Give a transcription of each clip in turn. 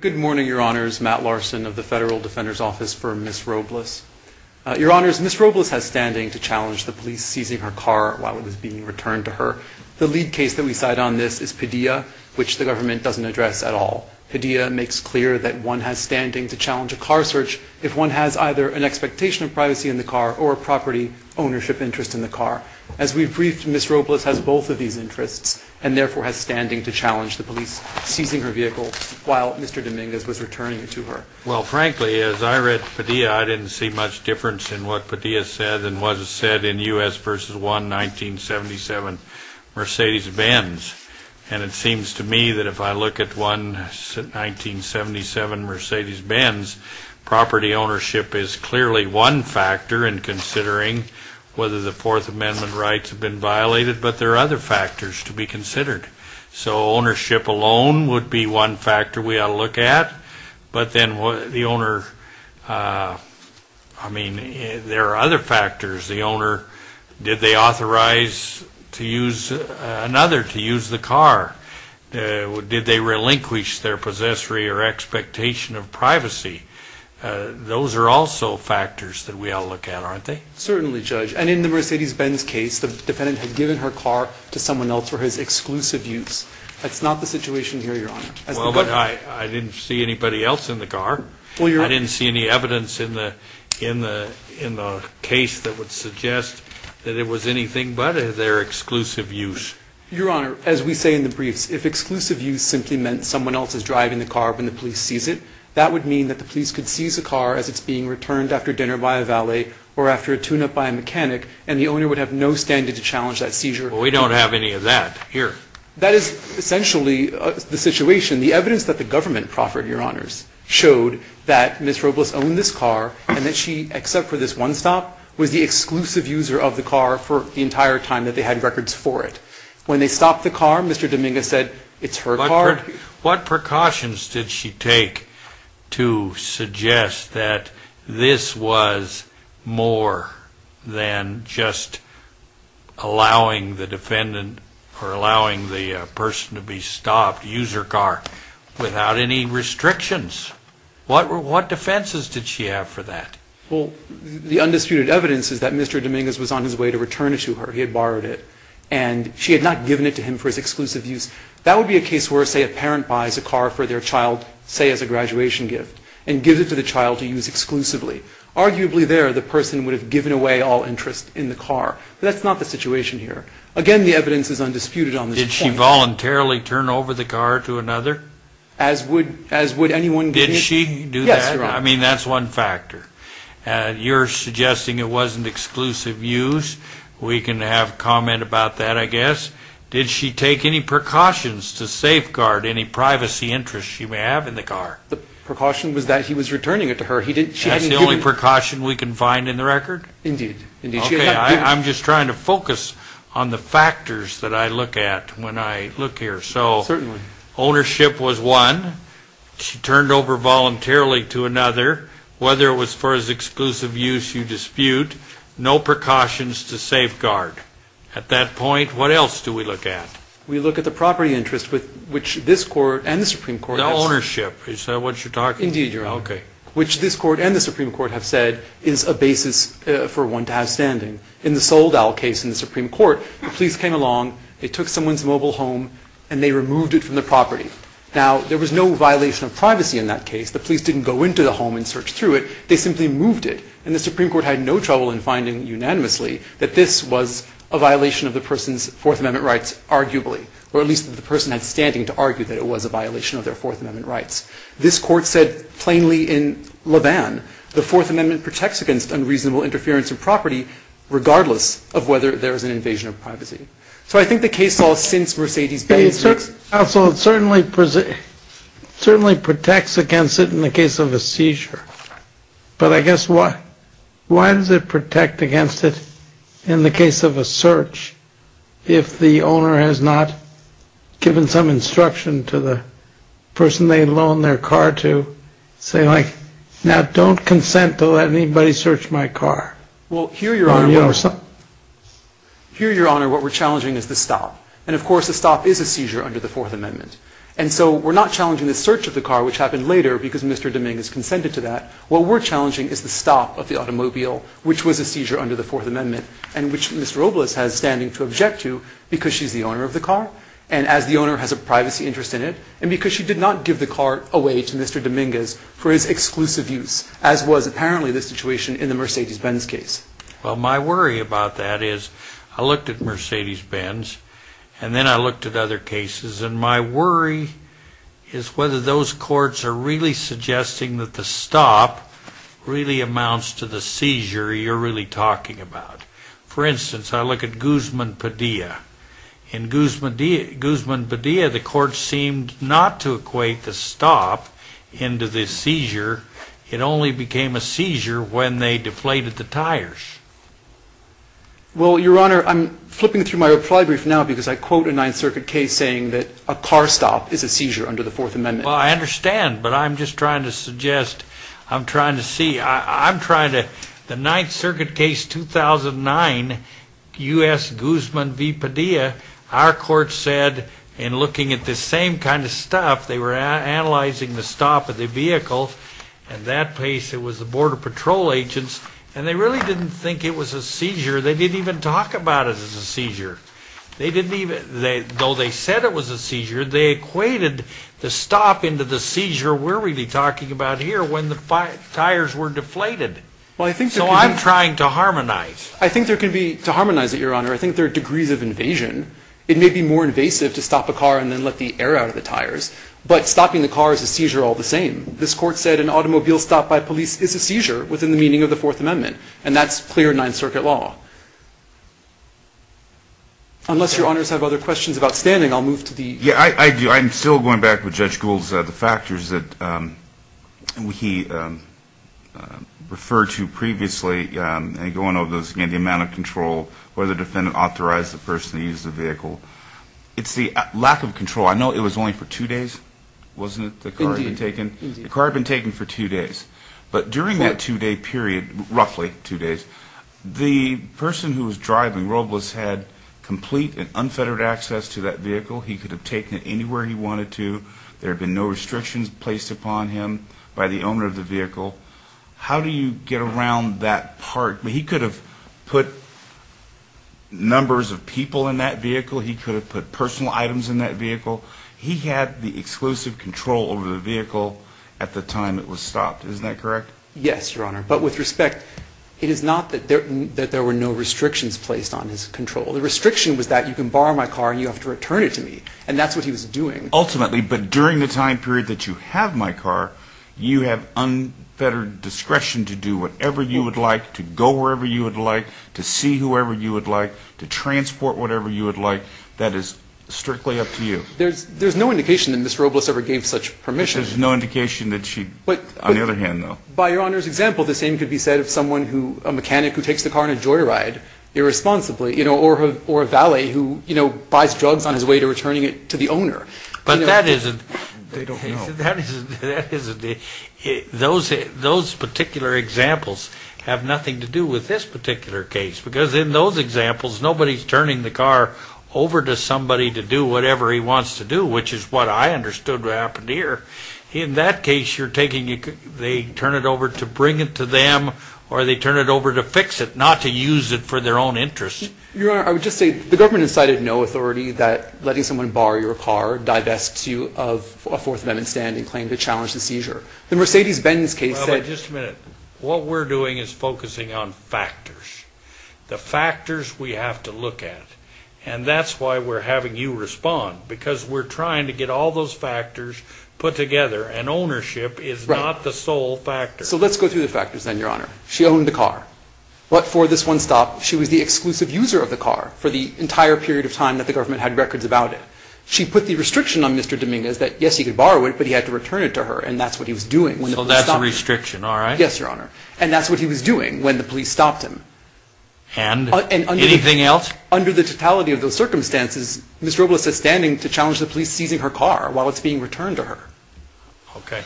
Good morning, Your Honors. Matt Larson of the Federal Defender's Office for Ms. Robles. Your Honors, Ms. Robles has standing to challenge the police seizing her car while it was being returned to her. The lead case that we cite on this is Padilla, which the government doesn't address at all. Padilla makes clear that one has standing to challenge a car search if one has either an expectation of privacy in the car or a property ownership interest in the car. As we've briefed, Ms. Robles has both of these interests and therefore has standing to challenge the police seizing her vehicle while Mr. Dominguez was returning it to her. Well, frankly, as I read Padilla, I didn't see much difference in what Padilla said than what was said in U.S. v. 1, 1977, Mercedes-Benz. And it seems to me that if I look at 1, 1977, Mercedes-Benz, property ownership is clearly one factor in considering whether the Fourth Amendment rights have been violated, but there are other factors to be considered. So ownership alone would be one factor we ought to look at, but then the owner, I mean, there are other factors. The owner, did they authorize another to use the car? Did they relinquish their possessory or expectation of privacy? Those are also factors that we ought to look at, aren't they? Certainly, Judge. And in the Mercedes-Benz case, the defendant had given her car to someone else for his exclusive use. That's not the situation here, Your Honor. Well, but I didn't see anybody else in the car. I didn't see any evidence in the case that would suggest that it was anything but their exclusive use. Your Honor, as we say in the briefs, if exclusive use simply meant someone else is driving the car when the police seize it, that would mean that the police could seize the car as it's being returned after dinner by a valet or after a tune-up by a mechanic, and the owner would have no standing to challenge that seizure. Well, we don't have any of that here. That is essentially the situation. The evidence that the government proffered, Your Honors, showed that Ms. Robles owned this car and that she, except for this one stop, was the exclusive user of the car for the entire time that they had records for it. When they stopped the car, Mr. Dominguez said it's her car. What precautions did she take to suggest that this was more than just allowing the defendant or allowing the person to be stopped, use her car, without any restrictions? What defenses did she have for that? Well, the undisputed evidence is that Mr. Dominguez was on his way to return it to her. He had borrowed it, and she had not given it to him for his exclusive use. That would be a case where, say, a parent buys a car for their child, say, as a graduation gift and gives it to the child to use exclusively. Arguably, there, the person would have given away all interest in the car. But that's not the situation here. Again, the evidence is undisputed on this point. Did she voluntarily turn over the car to another? As would anyone... Did she do that? Yes, Your Honor. I mean, that's one factor. You're suggesting it wasn't exclusive use. We can have comment about that, I guess. Did she take any precautions to safeguard any privacy interests she may have in the car? The precaution was that he was returning it to her. She hadn't given... That's the only precaution we can find in the record? Indeed. Okay. I'm just trying to focus on the factors that I look at when I look here. Certainly. Ownership was one. She turned over voluntarily to another. Whether it was for his exclusive use, you dispute. No precautions to safeguard. At that point, what else do we look at? We look at the property interest with which this Court and the Supreme Court... The ownership. Is that what you're talking about? Indeed, Your Honor. Okay. Which this Court and the Supreme Court have said is a basis for one to have standing. In the Soldow case in the Supreme Court, the police came along, they took someone's mobile home, and they removed it from the property. Now, there was no violation of privacy in that case. The police didn't go into the home and search through it. They simply moved it. And the Supreme Court had no trouble in finding, unanimously, that this was a violation of the person's Fourth Amendment rights, arguably, or at least that the person had standing to argue that it was a violation of their Fourth Amendment rights. This Court said, plainly, in Lebanon, the Fourth Amendment protects against unreasonable interference in property, regardless of whether there is an invasion of privacy. So I think the case law since Mercedes Bayes... Counsel, it certainly protects against it in the case of a seizure. But I guess why does it protect against it in the case of a search if the owner has not given some instruction to the person they loaned their car to, say, like, now, don't consent to let anybody search my car. Well, here, Your Honor, what we're challenging is the stop. And, of course, a stop is a seizure under the Fourth Amendment. And so we're not challenging the search of the car, which happened later because Mr. Dominguez consented to that. What we're challenging is the stop of the automobile, which was a seizure under the Fourth Amendment and which Ms. Robles has standing to object to because she's the owner of the car and as the owner has a privacy interest in it and because she did not give the car away to Mr. Dominguez for his exclusive use, as was apparently the situation in the Mercedes-Benz case. Well, my worry about that is I looked at Mercedes-Benz, and then I looked at other cases, and my worry is whether those courts are really suggesting that the stop really amounts to the seizure you're really talking about. For instance, I look at Guzman-Padilla. In Guzman-Padilla, the court seemed not to equate the stop into the seizure. It only became a seizure when they deflated the tires. Well, Your Honor, I'm flipping through my reply brief now because I quote a Ninth Circuit case saying that a car stop is a seizure under the Fourth Amendment. Well, I understand, but I'm just trying to suggest, I'm trying to see, I'm trying to, the Ninth Circuit case 2009, U.S. Guzman v. Padilla, our court said in looking at the same kind of stop, they were analyzing the stop of the vehicle, and that case it was the Border Patrol agents, and they really didn't think it was a seizure. They didn't even talk about it as a seizure. They didn't even, though they said it was a seizure, they equated the stop into the seizure we're really talking about here when the tires were deflated. So I'm trying to harmonize. I think there can be, to harmonize it, Your Honor, I think there are degrees of invasion. It may be more invasive to stop a car and then let the air out of the tires, but stopping the car is a seizure all the same. This court said an automobile stop by police is a seizure within the meaning of the Fourth Amendment, and that's clear in Ninth Circuit law. Unless Your Honors have other questions about standing, I'll move to the... Yeah, I do. I'm still going back with Judge Gould's, the factors that he referred to previously, and going over those again, the amount of control, whether the defendant authorized the person to use the vehicle. It's the lack of control. I know it was only for two days, wasn't it, the car had been taken? Indeed. The car had been taken for two days, but during that two-day period, roughly two days, the person who was driving, Robles, had complete and unfettered access to that vehicle. He could have taken it anywhere he wanted to. There had been no restrictions placed upon him by the owner of the vehicle. How do you get around that part? He could have put numbers of people in that vehicle. He could have put personal items in that vehicle. He had the exclusive control over the vehicle at the time it was stopped. Isn't that correct? Yes, Your Honor, but with respect, it is not that there were no restrictions placed on his control. The restriction was that you can borrow my car and you have to return it to me, and that's what he was doing. Ultimately, but during the time period that you have my car, you have unfettered discretion to do whatever you would like, to go wherever you would like, to see whoever you would like, to transport whatever you would like. That is strictly up to you. There's no indication that Ms. Robles ever gave such permission. There's no indication that she, on the other hand, though. By Your Honor's example, the same could be said of someone who, a mechanic who takes the car on a joyride irresponsibly, or a valet who buys drugs on his way to returning it to the owner. But that isn't, those particular examples have nothing to do with this particular case because in those examples nobody's turning the car over to somebody to do whatever he wants to do, which is what I understood happened here. In that case, you're taking it, they turn it over to bring it to them, or they turn it over to fix it, not to use it for their own interest. Your Honor, I would just say the government has cited no authority that letting someone borrow your car divests you of a Fourth Amendment standing claim to challenge the seizure. The Mercedes-Benz case said... Well, but just a minute. What we're doing is focusing on factors. The factors we have to look at, and that's why we're having you respond because we're trying to get all those factors put together, and ownership is not the sole factor. So let's go through the factors then, Your Honor. She owned the car, but for this one stop she was the exclusive user of the car for the entire period of time that the government had records about it. She put the restriction on Mr. Dominguez that, yes, he could borrow it, but he had to return it to her, and that's what he was doing. So that's a restriction, all right. Yes, Your Honor. And that's what he was doing when the police stopped him. And anything else? Under the totality of those circumstances, Ms. Robles has standing to challenge the police seizing her car while it's being returned to her. Okay.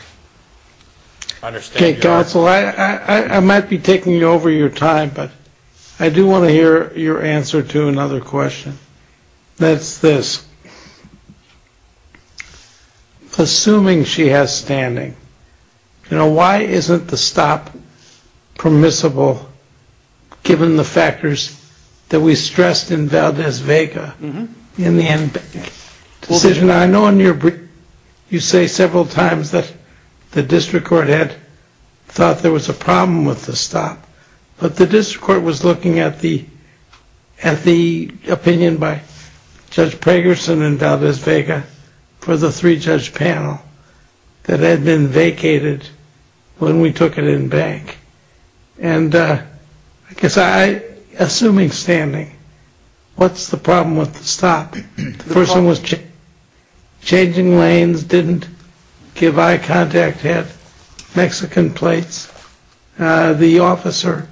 Counsel, I might be taking over your time, but I do want to hear your answer to another question. That's this. Assuming she has standing, you know, why isn't the stop permissible, given the factors that we stressed in Valdez-Vega in the decision? Now, I know you say several times that the district court had thought there was a problem with the stop, but the district court was looking at the opinion by Judge Pragerson in Valdez-Vega for the three-judge panel that had been vacated when we took it in bank. And I guess assuming standing, what's the problem with the stop? The person was changing lanes, didn't give eye contact, had Mexican plates. The officer,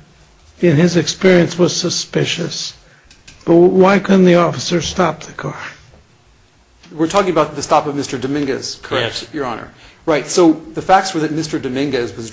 in his experience, was suspicious. But why couldn't the officer stop the car? We're talking about the stop of Mr. Dominguez, correct, Your Honor? Yes. Right. So the facts were that Mr. Dominguez was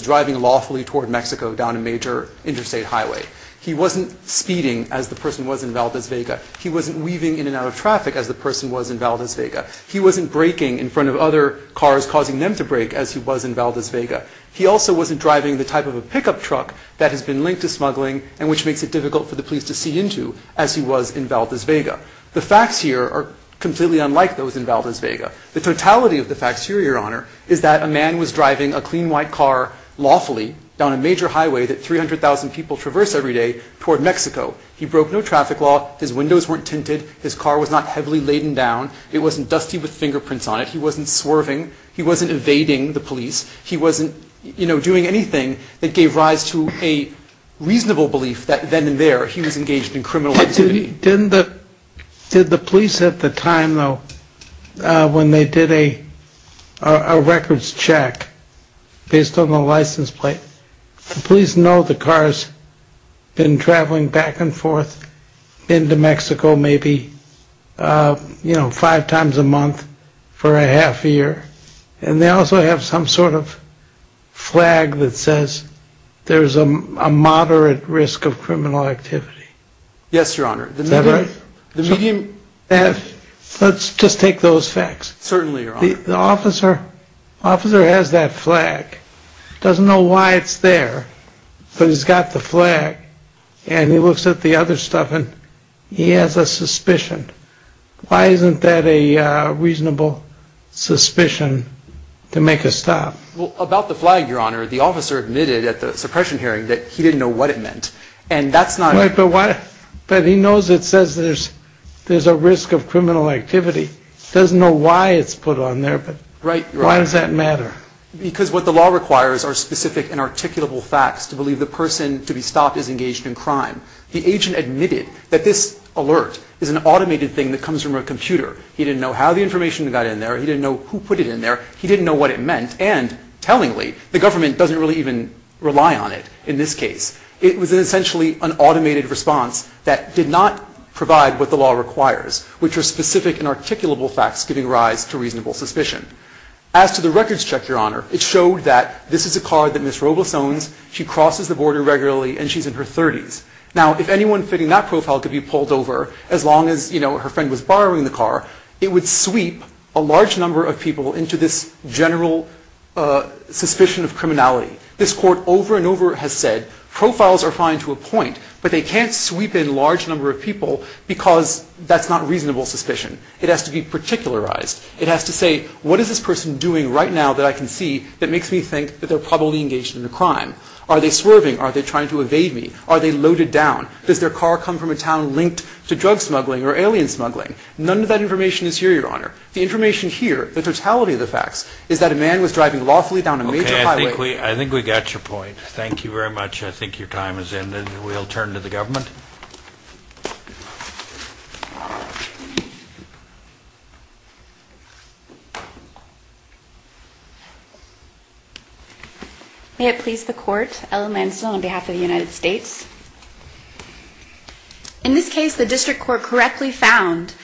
driving lawfully toward Mexico down a major interstate highway. He wasn't speeding, as the person was in Valdez-Vega. He wasn't weaving in and out of traffic, as the person was in Valdez-Vega. He wasn't braking in front of other cars, causing them to brake, as he was in Valdez-Vega. He also wasn't driving the type of a pickup truck that has been linked to as he was in Valdez-Vega. The facts here are completely unlike those in Valdez-Vega. The totality of the facts here, Your Honor, is that a man was driving a clean, white car lawfully down a major highway that 300,000 people traverse every day toward Mexico. He broke no traffic law. His windows weren't tinted. His car was not heavily laden down. It wasn't dusty with fingerprints on it. He wasn't swerving. He wasn't evading the police. He wasn't, you know, doing anything that gave rise to a reasonable belief that then and there he was engaged in criminal activity. Didn't the police at the time, though, when they did a records check based on the license plate, the police know the car's been traveling back and forth into Mexico maybe, you know, five times a month for a half year. And they also have some sort of flag that says there's a moderate risk of criminal activity. Yes, Your Honor. Is that right? Let's just take those facts. Certainly, Your Honor. The officer has that flag, doesn't know why it's there, but he's got the flag and he looks at the other stuff and he has a suspicion. Why isn't that a reasonable suspicion to make a stop? Well, about the flag, Your Honor, the officer admitted at the suppression hearing that he didn't know what it meant. But he knows it says there's a risk of criminal activity. He doesn't know why it's put on there, but why does that matter? Because what the law requires are specific and articulable facts to believe the person to be stopped is engaged in crime. The agent admitted that this alert is an automated thing that comes from a computer. He didn't know how the information got in there. He didn't know who put it in there. He didn't know what it meant. And, tellingly, the government doesn't really even rely on it in this case. It was essentially an automated response that did not provide what the law requires, which are specific and articulable facts giving rise to reasonable suspicion. As to the records check, Your Honor, it showed that this is a car that Ms. Robles owns. She crosses the border regularly and she's in her 30s. Now, if anyone fitting that profile could be pulled over, as long as, you know, her friend was borrowing the car, it would sweep a large number of people into this general suspicion of criminality. This Court over and over has said profiles are fine to a point, but they can't sweep in a large number of people because that's not reasonable suspicion. It has to be particularized. It has to say, what is this person doing right now that I can see that makes me think that they're probably engaged in a crime? Are they swerving? Are they trying to evade me? Are they loaded down? Does their car come from a town linked to drug smuggling or alien smuggling? None of that information is here, Your Honor. The information here, the totality of the facts, is that a man was driving lawfully down a major highway. Okay, I think we got your point. Thank you very much. I think your time has ended. We'll turn to the government. May it please the Court, Ellen Lansdell on behalf of the United States. In this case, the district court correctly found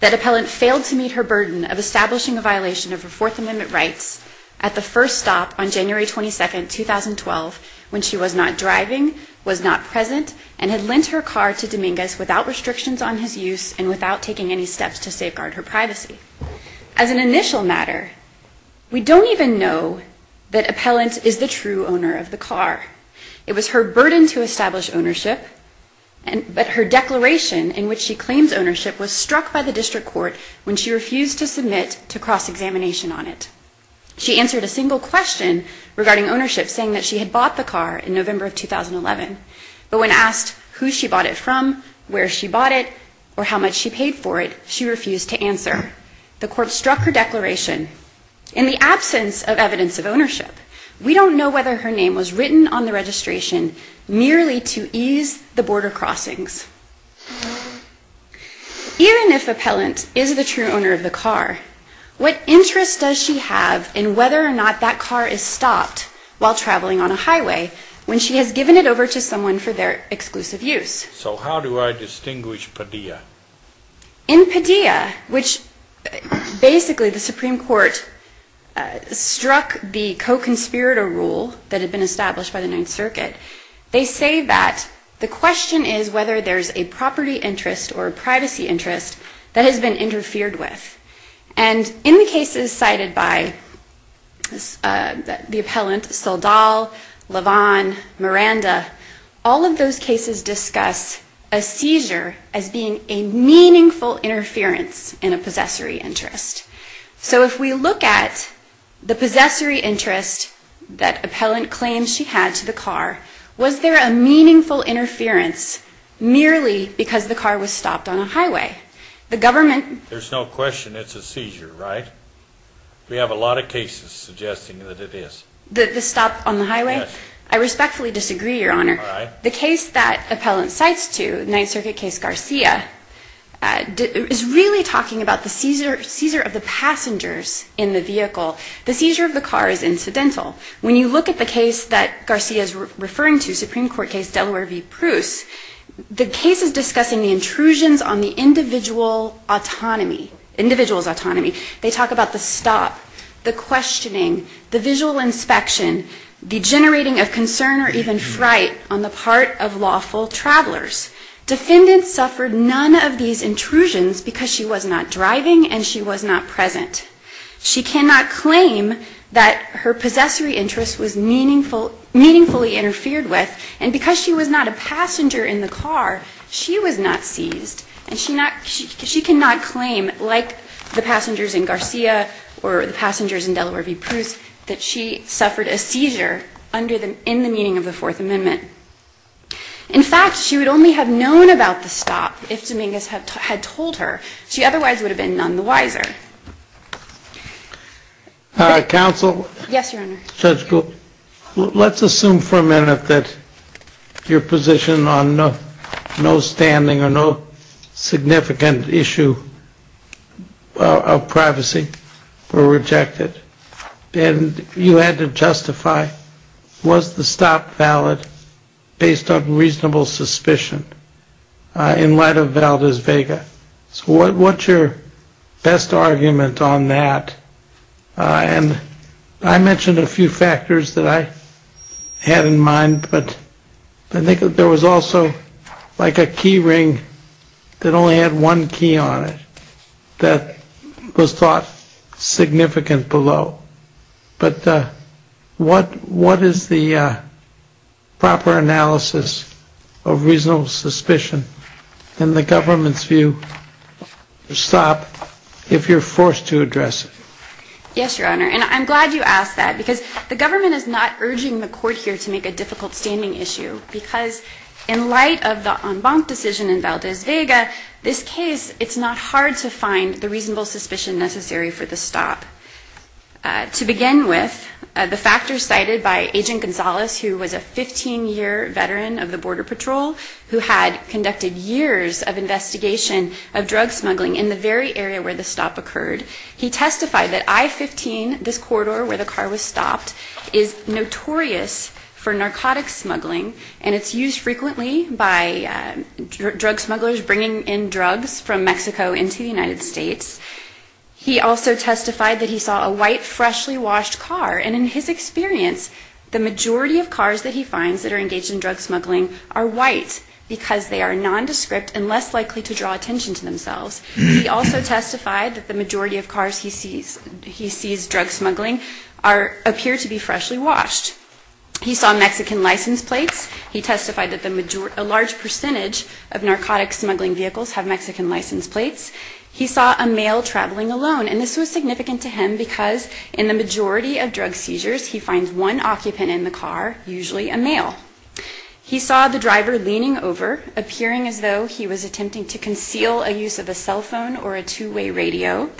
that appellant failed to meet her burden of establishing a violation of her Fourth Amendment rights at the first stop on January 22, 2012, when she was not driving, was not present, and had lent her car to Dominguez without restrictions on his use and without taking any steps to safeguard her privacy. As an initial matter, we don't even know that appellant is the true owner of the car. It was her burden to establish ownership, but her declaration in which she refused to submit to cross-examination on it. She answered a single question regarding ownership, saying that she had bought the car in November of 2011. But when asked who she bought it from, where she bought it, or how much she paid for it, she refused to answer. The court struck her declaration. In the absence of evidence of ownership, we don't know whether her name was written on the registration merely to ease the border crossings. Even if appellant is the true owner of the car, what interest does she have in whether or not that car is stopped while traveling on a highway when she has given it over to someone for their exclusive use? So how do I distinguish Padilla? In Padilla, which basically the Supreme Court struck the co-conspirator rule that had been established by the Ninth Circuit, they say that the question is whether there's a property interest or a privacy interest that has been interfered with. And in the cases cited by the appellant, Saldal, Lavon, Miranda, all of those cases discuss a seizure as being a meaningful interference in a possessory interest. So if we look at the possessory interest that appellant claims she had to the car was stopped on a highway. The government... There's no question it's a seizure, right? We have a lot of cases suggesting that it is. The stop on the highway? Yes. I respectfully disagree, Your Honor. All right. The case that appellant cites to, Ninth Circuit case Garcia, is really talking about the seizure of the passengers in the vehicle. The seizure of the car is incidental. When you look at the case that Garcia is referring to, Supreme Court case Delaware v. Pruse, the case is discussing the intrusions on the individual autonomy, individual's autonomy. They talk about the stop, the questioning, the visual inspection, the generating of concern or even fright on the part of lawful travelers. Defendant suffered none of these intrusions because she was not driving and she was not present. She cannot claim that her possessory interest was meaningfully interfered with, and because she was not a passenger in the car, she was not seized. And she cannot claim, like the passengers in Garcia or the passengers in Delaware v. Pruse, that she suffered a seizure in the meeting of the Fourth Amendment. In fact, she would only have known about the stop if Dominguez had told her. She otherwise would have been none the wiser. Counsel? Yes, Your Honor. Judge Gould, let's assume for a minute that your position on no standing or no significant issue of privacy were rejected, and you had to justify, was the stop valid based on reasonable suspicion in light of Valdez-Vega? So what's your best argument on that? And I mentioned a few factors that I had in mind, but I think that there was also like a key ring that only had one key on it that was thought significant below. But what is the proper analysis of reasonable suspicion in the government's Yes, Your Honor. And I'm glad you asked that, because the government is not urging the court here to make a difficult standing issue, because in light of the en banc decision in Valdez-Vega, this case, it's not hard to find the reasonable suspicion necessary for the stop. To begin with, the factors cited by Agent Gonzalez, who was a 15-year veteran of drug smuggling in the very area where the stop occurred, he testified that I-15, this corridor where the car was stopped, is notorious for narcotic smuggling, and it's used frequently by drug smugglers bringing in drugs from Mexico into the United States. He also testified that he saw a white, freshly washed car. And in his experience, the majority of cars that he finds that are engaged in drug smuggling are white because they are nondescript and less likely to draw attention to themselves. He also testified that the majority of cars he sees drug smuggling appear to be freshly washed. He saw Mexican license plates. He testified that a large percentage of narcotic smuggling vehicles have Mexican license plates. He saw a male traveling alone, and this was significant to him because in the majority of drug seizures, he finds one occupant in the car, usually a male. He saw the driver leaning over, appearing as though he was attempting to conceal a use of a cell phone or a two-way radio.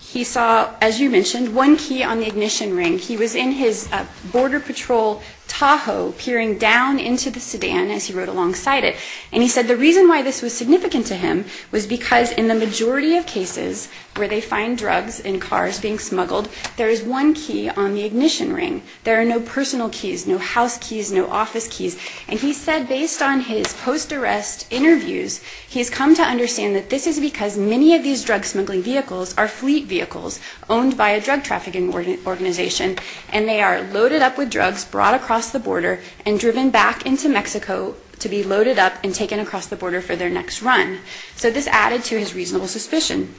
He saw, as you mentioned, one key on the ignition ring. He was in his Border Patrol Tahoe, peering down into the sedan, as he wrote alongside it, and he said the reason why this was significant to him was because in the majority of cases where they find drugs in cars being smuggled, there is one key on the ignition ring. There are no personal keys, no house keys, no office keys. And he said based on his post-arrest interviews, he's come to understand that this is because many of these drug smuggling vehicles are fleet vehicles owned by a drug trafficking organization, and they are loaded up with drugs, brought across the border, and driven back into Mexico to be loaded up and taken across the border for their next run. So this added to his reasonable suspicion.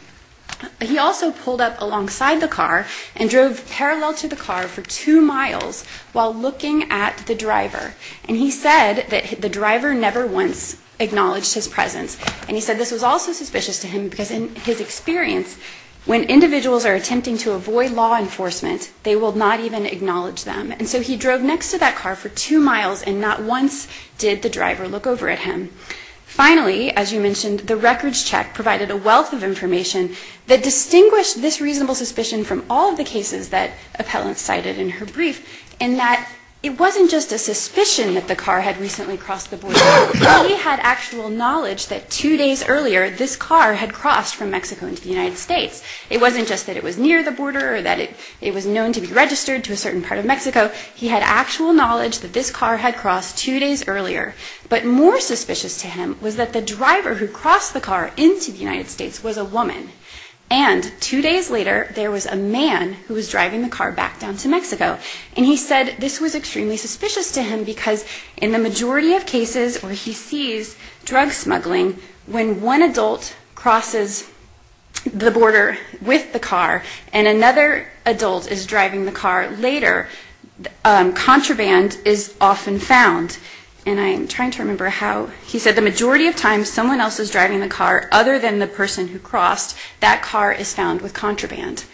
He also pulled up alongside the car and drove parallel to the car for two miles while looking at the driver. And he said that the driver never once acknowledged his presence. And he said this was also suspicious to him because in his experience, when individuals are attempting to avoid law enforcement, they will not even acknowledge them. And so he drove next to that car for two miles and not once did the driver look over at him. Finally, as you mentioned, the records check provided a wealth of information that distinguished this reasonable suspicion from all of the cases that Appellant cited in her brief, in that it wasn't just a suspicion that the car had recently crossed the border. He had actual knowledge that two days earlier, this car had crossed from Mexico into the United States. It wasn't just that it was near the border or that it was known to be registered to a certain part of Mexico. He had actual knowledge that this car had crossed two days earlier. But more suspicious to him was that the driver who crossed the car into the United States was a woman. And two days later, there was a man who was driving the car back down to Mexico. And he said this was extremely suspicious to him because in the majority of cases where he sees drug smuggling, when one adult crosses the border with the car and another adult is driving the car later, contraband is often found. And I'm trying to remember how he said the majority of times someone else is driving the car other than the person who crossed, that car is found with contraband.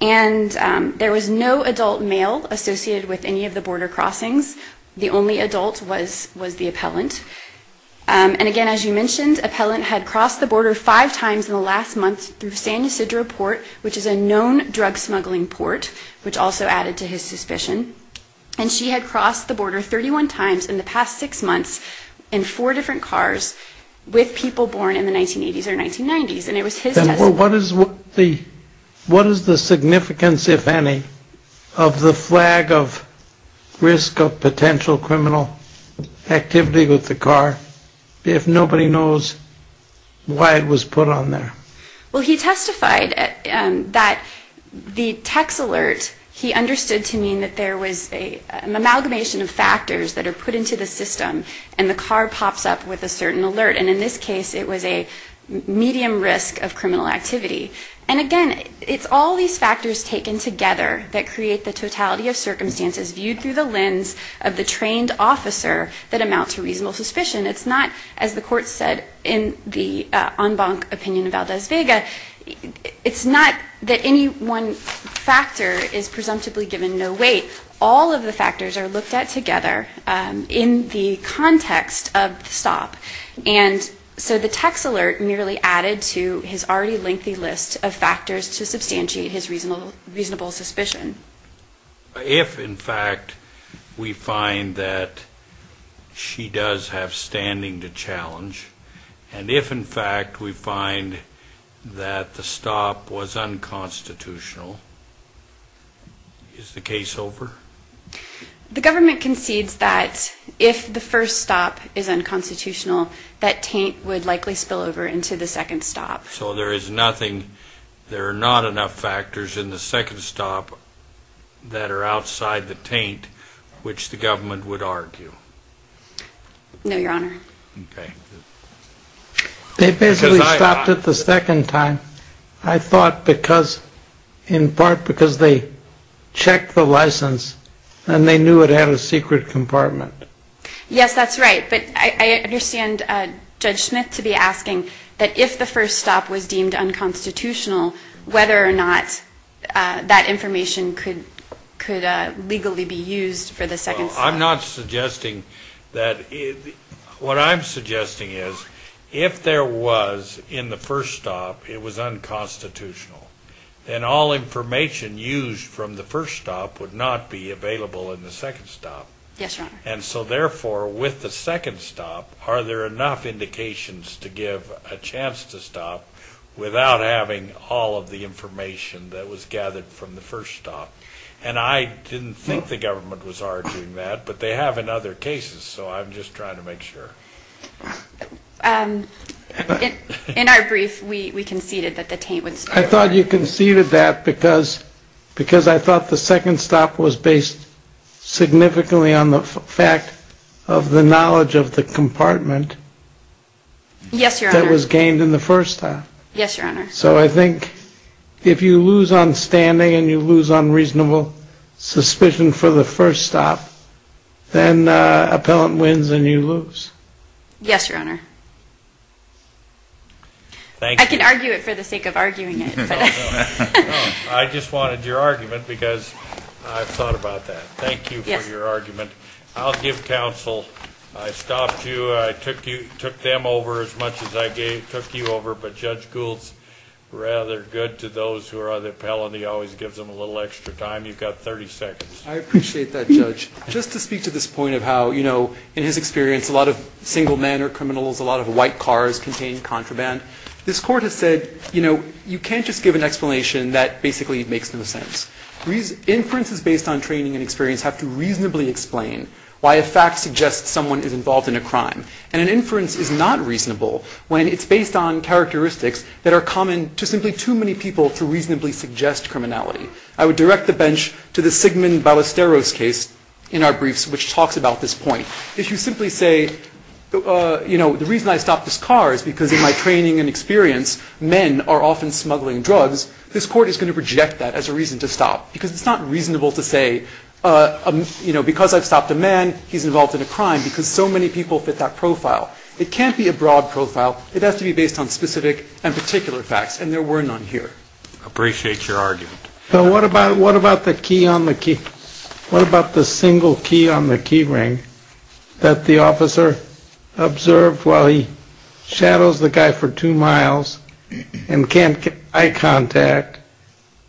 And there was no adult male associated with any of the border crossings. The only adult was the Appellant. And again, as you mentioned, Appellant had crossed the border five times in the last month through San Ysidro Port, which is a known drug smuggling port, which also added to his suspicion. And she had crossed the border 31 times in the past six months in four different cars with people born in the 1980s or 1990s. And it was his testimony. And what is the significance, if any, of the flag of risk of potential criminal activity with the car if nobody knows why it was put on there? Well, he testified that the text alert, he understood to mean that there was an amalgamation of factors that are put into the system and the car pops up with a certain alert. And in this case, it was a medium risk of criminal activity. And again, it's all these factors taken together that create the totality of circumstances viewed through the lens of the trained officer that amount to reasonable suspicion. It's not, as the court said in the en banc opinion of Valdez-Vega, it's not that any one factor is presumptively given no weight. All of the factors are looked at together in the context of the stop. And so the text alert merely added to his already lengthy list of factors to substantiate his reasonable suspicion. If, in fact, we find that she does have standing to challenge, and if, in fact, we find that the stop was unconstitutional, is the case over? The government concedes that if the first stop is unconstitutional, that taint would likely spill over into the second stop. So there is nothing, there are not enough factors in the second stop that are outside the taint which the government would argue. No, Your Honor. Okay. They basically stopped it the second time, I thought, in part because they checked the license and they knew it had a secret compartment. Yes, that's right. But I understand Judge Smith to be asking that if the first stop was deemed unconstitutional, whether or not that information could legally be used for the second stop. Well, I'm not suggesting that. What I'm suggesting is, if there was, in the first stop, it was unconstitutional, then all information used from the first stop would not be available in the second stop. Yes, Your Honor. And so therefore, with the second stop, are there enough indications to give a chance to stop without having all of the information that was gathered from the first stop? And I didn't think the government was arguing that, but they have in other cases, so I'm just trying to make sure. In our brief, we conceded that the taint would spill over. I thought you conceded that because I thought the second stop was based significantly on the fact of the knowledge of the compartment. Yes, Your Honor. That was gained in the first stop. Yes, Your Honor. So I think if you lose on standing and you lose on reasonable suspicion for the first stop, then appellant wins and you lose. Yes, Your Honor. Thank you. I can argue it for the sake of arguing it. I just wanted your argument because I've thought about that. Thank you for your argument. I'll give counsel. I stopped you. I took them over as much as I took you over. But Judge Gould's rather good to those who are on the appellant. He always gives them a little extra time. You've got 30 seconds. I appreciate that, Judge. Just to speak to this point of how, you know, in his experience, a lot of single-manner criminals, a lot of white cars contain contraband. This Court has said, you know, you can't just give an explanation that basically makes no sense. Inferences based on training and experience have to reasonably explain why a fact suggests someone is involved in a crime. And an inference is not reasonable when it's based on characteristics that are common to simply too many people to reasonably suggest criminality. I would direct the bench to the Sigmund Ballesteros case in our briefs, which talks about this point. If you simply say, you know, the reason I stopped this car is because in my training and experience, men are often smuggling drugs, this Court is going to reject that as a reason to stop, because it's not reasonable to say, you know, because I've stopped a man, he's involved in a crime, because so many people fit that profile. It can't be a broad profile. It has to be based on specific and particular facts, and there were none here. Appreciate your argument. What about the key on the key? What about the single key on the key ring that the officer observed while he drove by for two miles and can't get eye contact,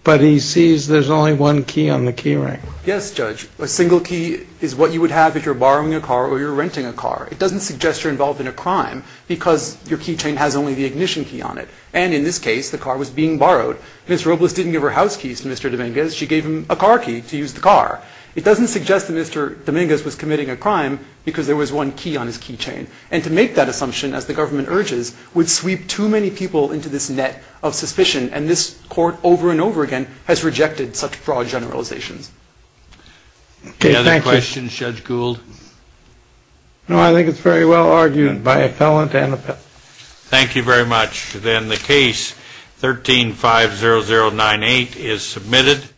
but he sees there's only one key on the key ring? Yes, Judge. A single key is what you would have if you're borrowing a car or you're renting a car. It doesn't suggest you're involved in a crime because your key chain has only the ignition key on it. And in this case, the car was being borrowed. Ms. Robles didn't give her house keys to Mr. Dominguez. She gave him a car key to use the car. It doesn't suggest that Mr. Dominguez was committing a crime because there was one key on his key chain. And to make that assumption, as the government urges, would sweep too many people into this net of suspicion, and this Court over and over again has rejected such broad generalizations. Any other questions, Judge Gould? No, I think it's very well argued by a felon and a pet. Thank you very much. Then the case 13-50098 is submitted.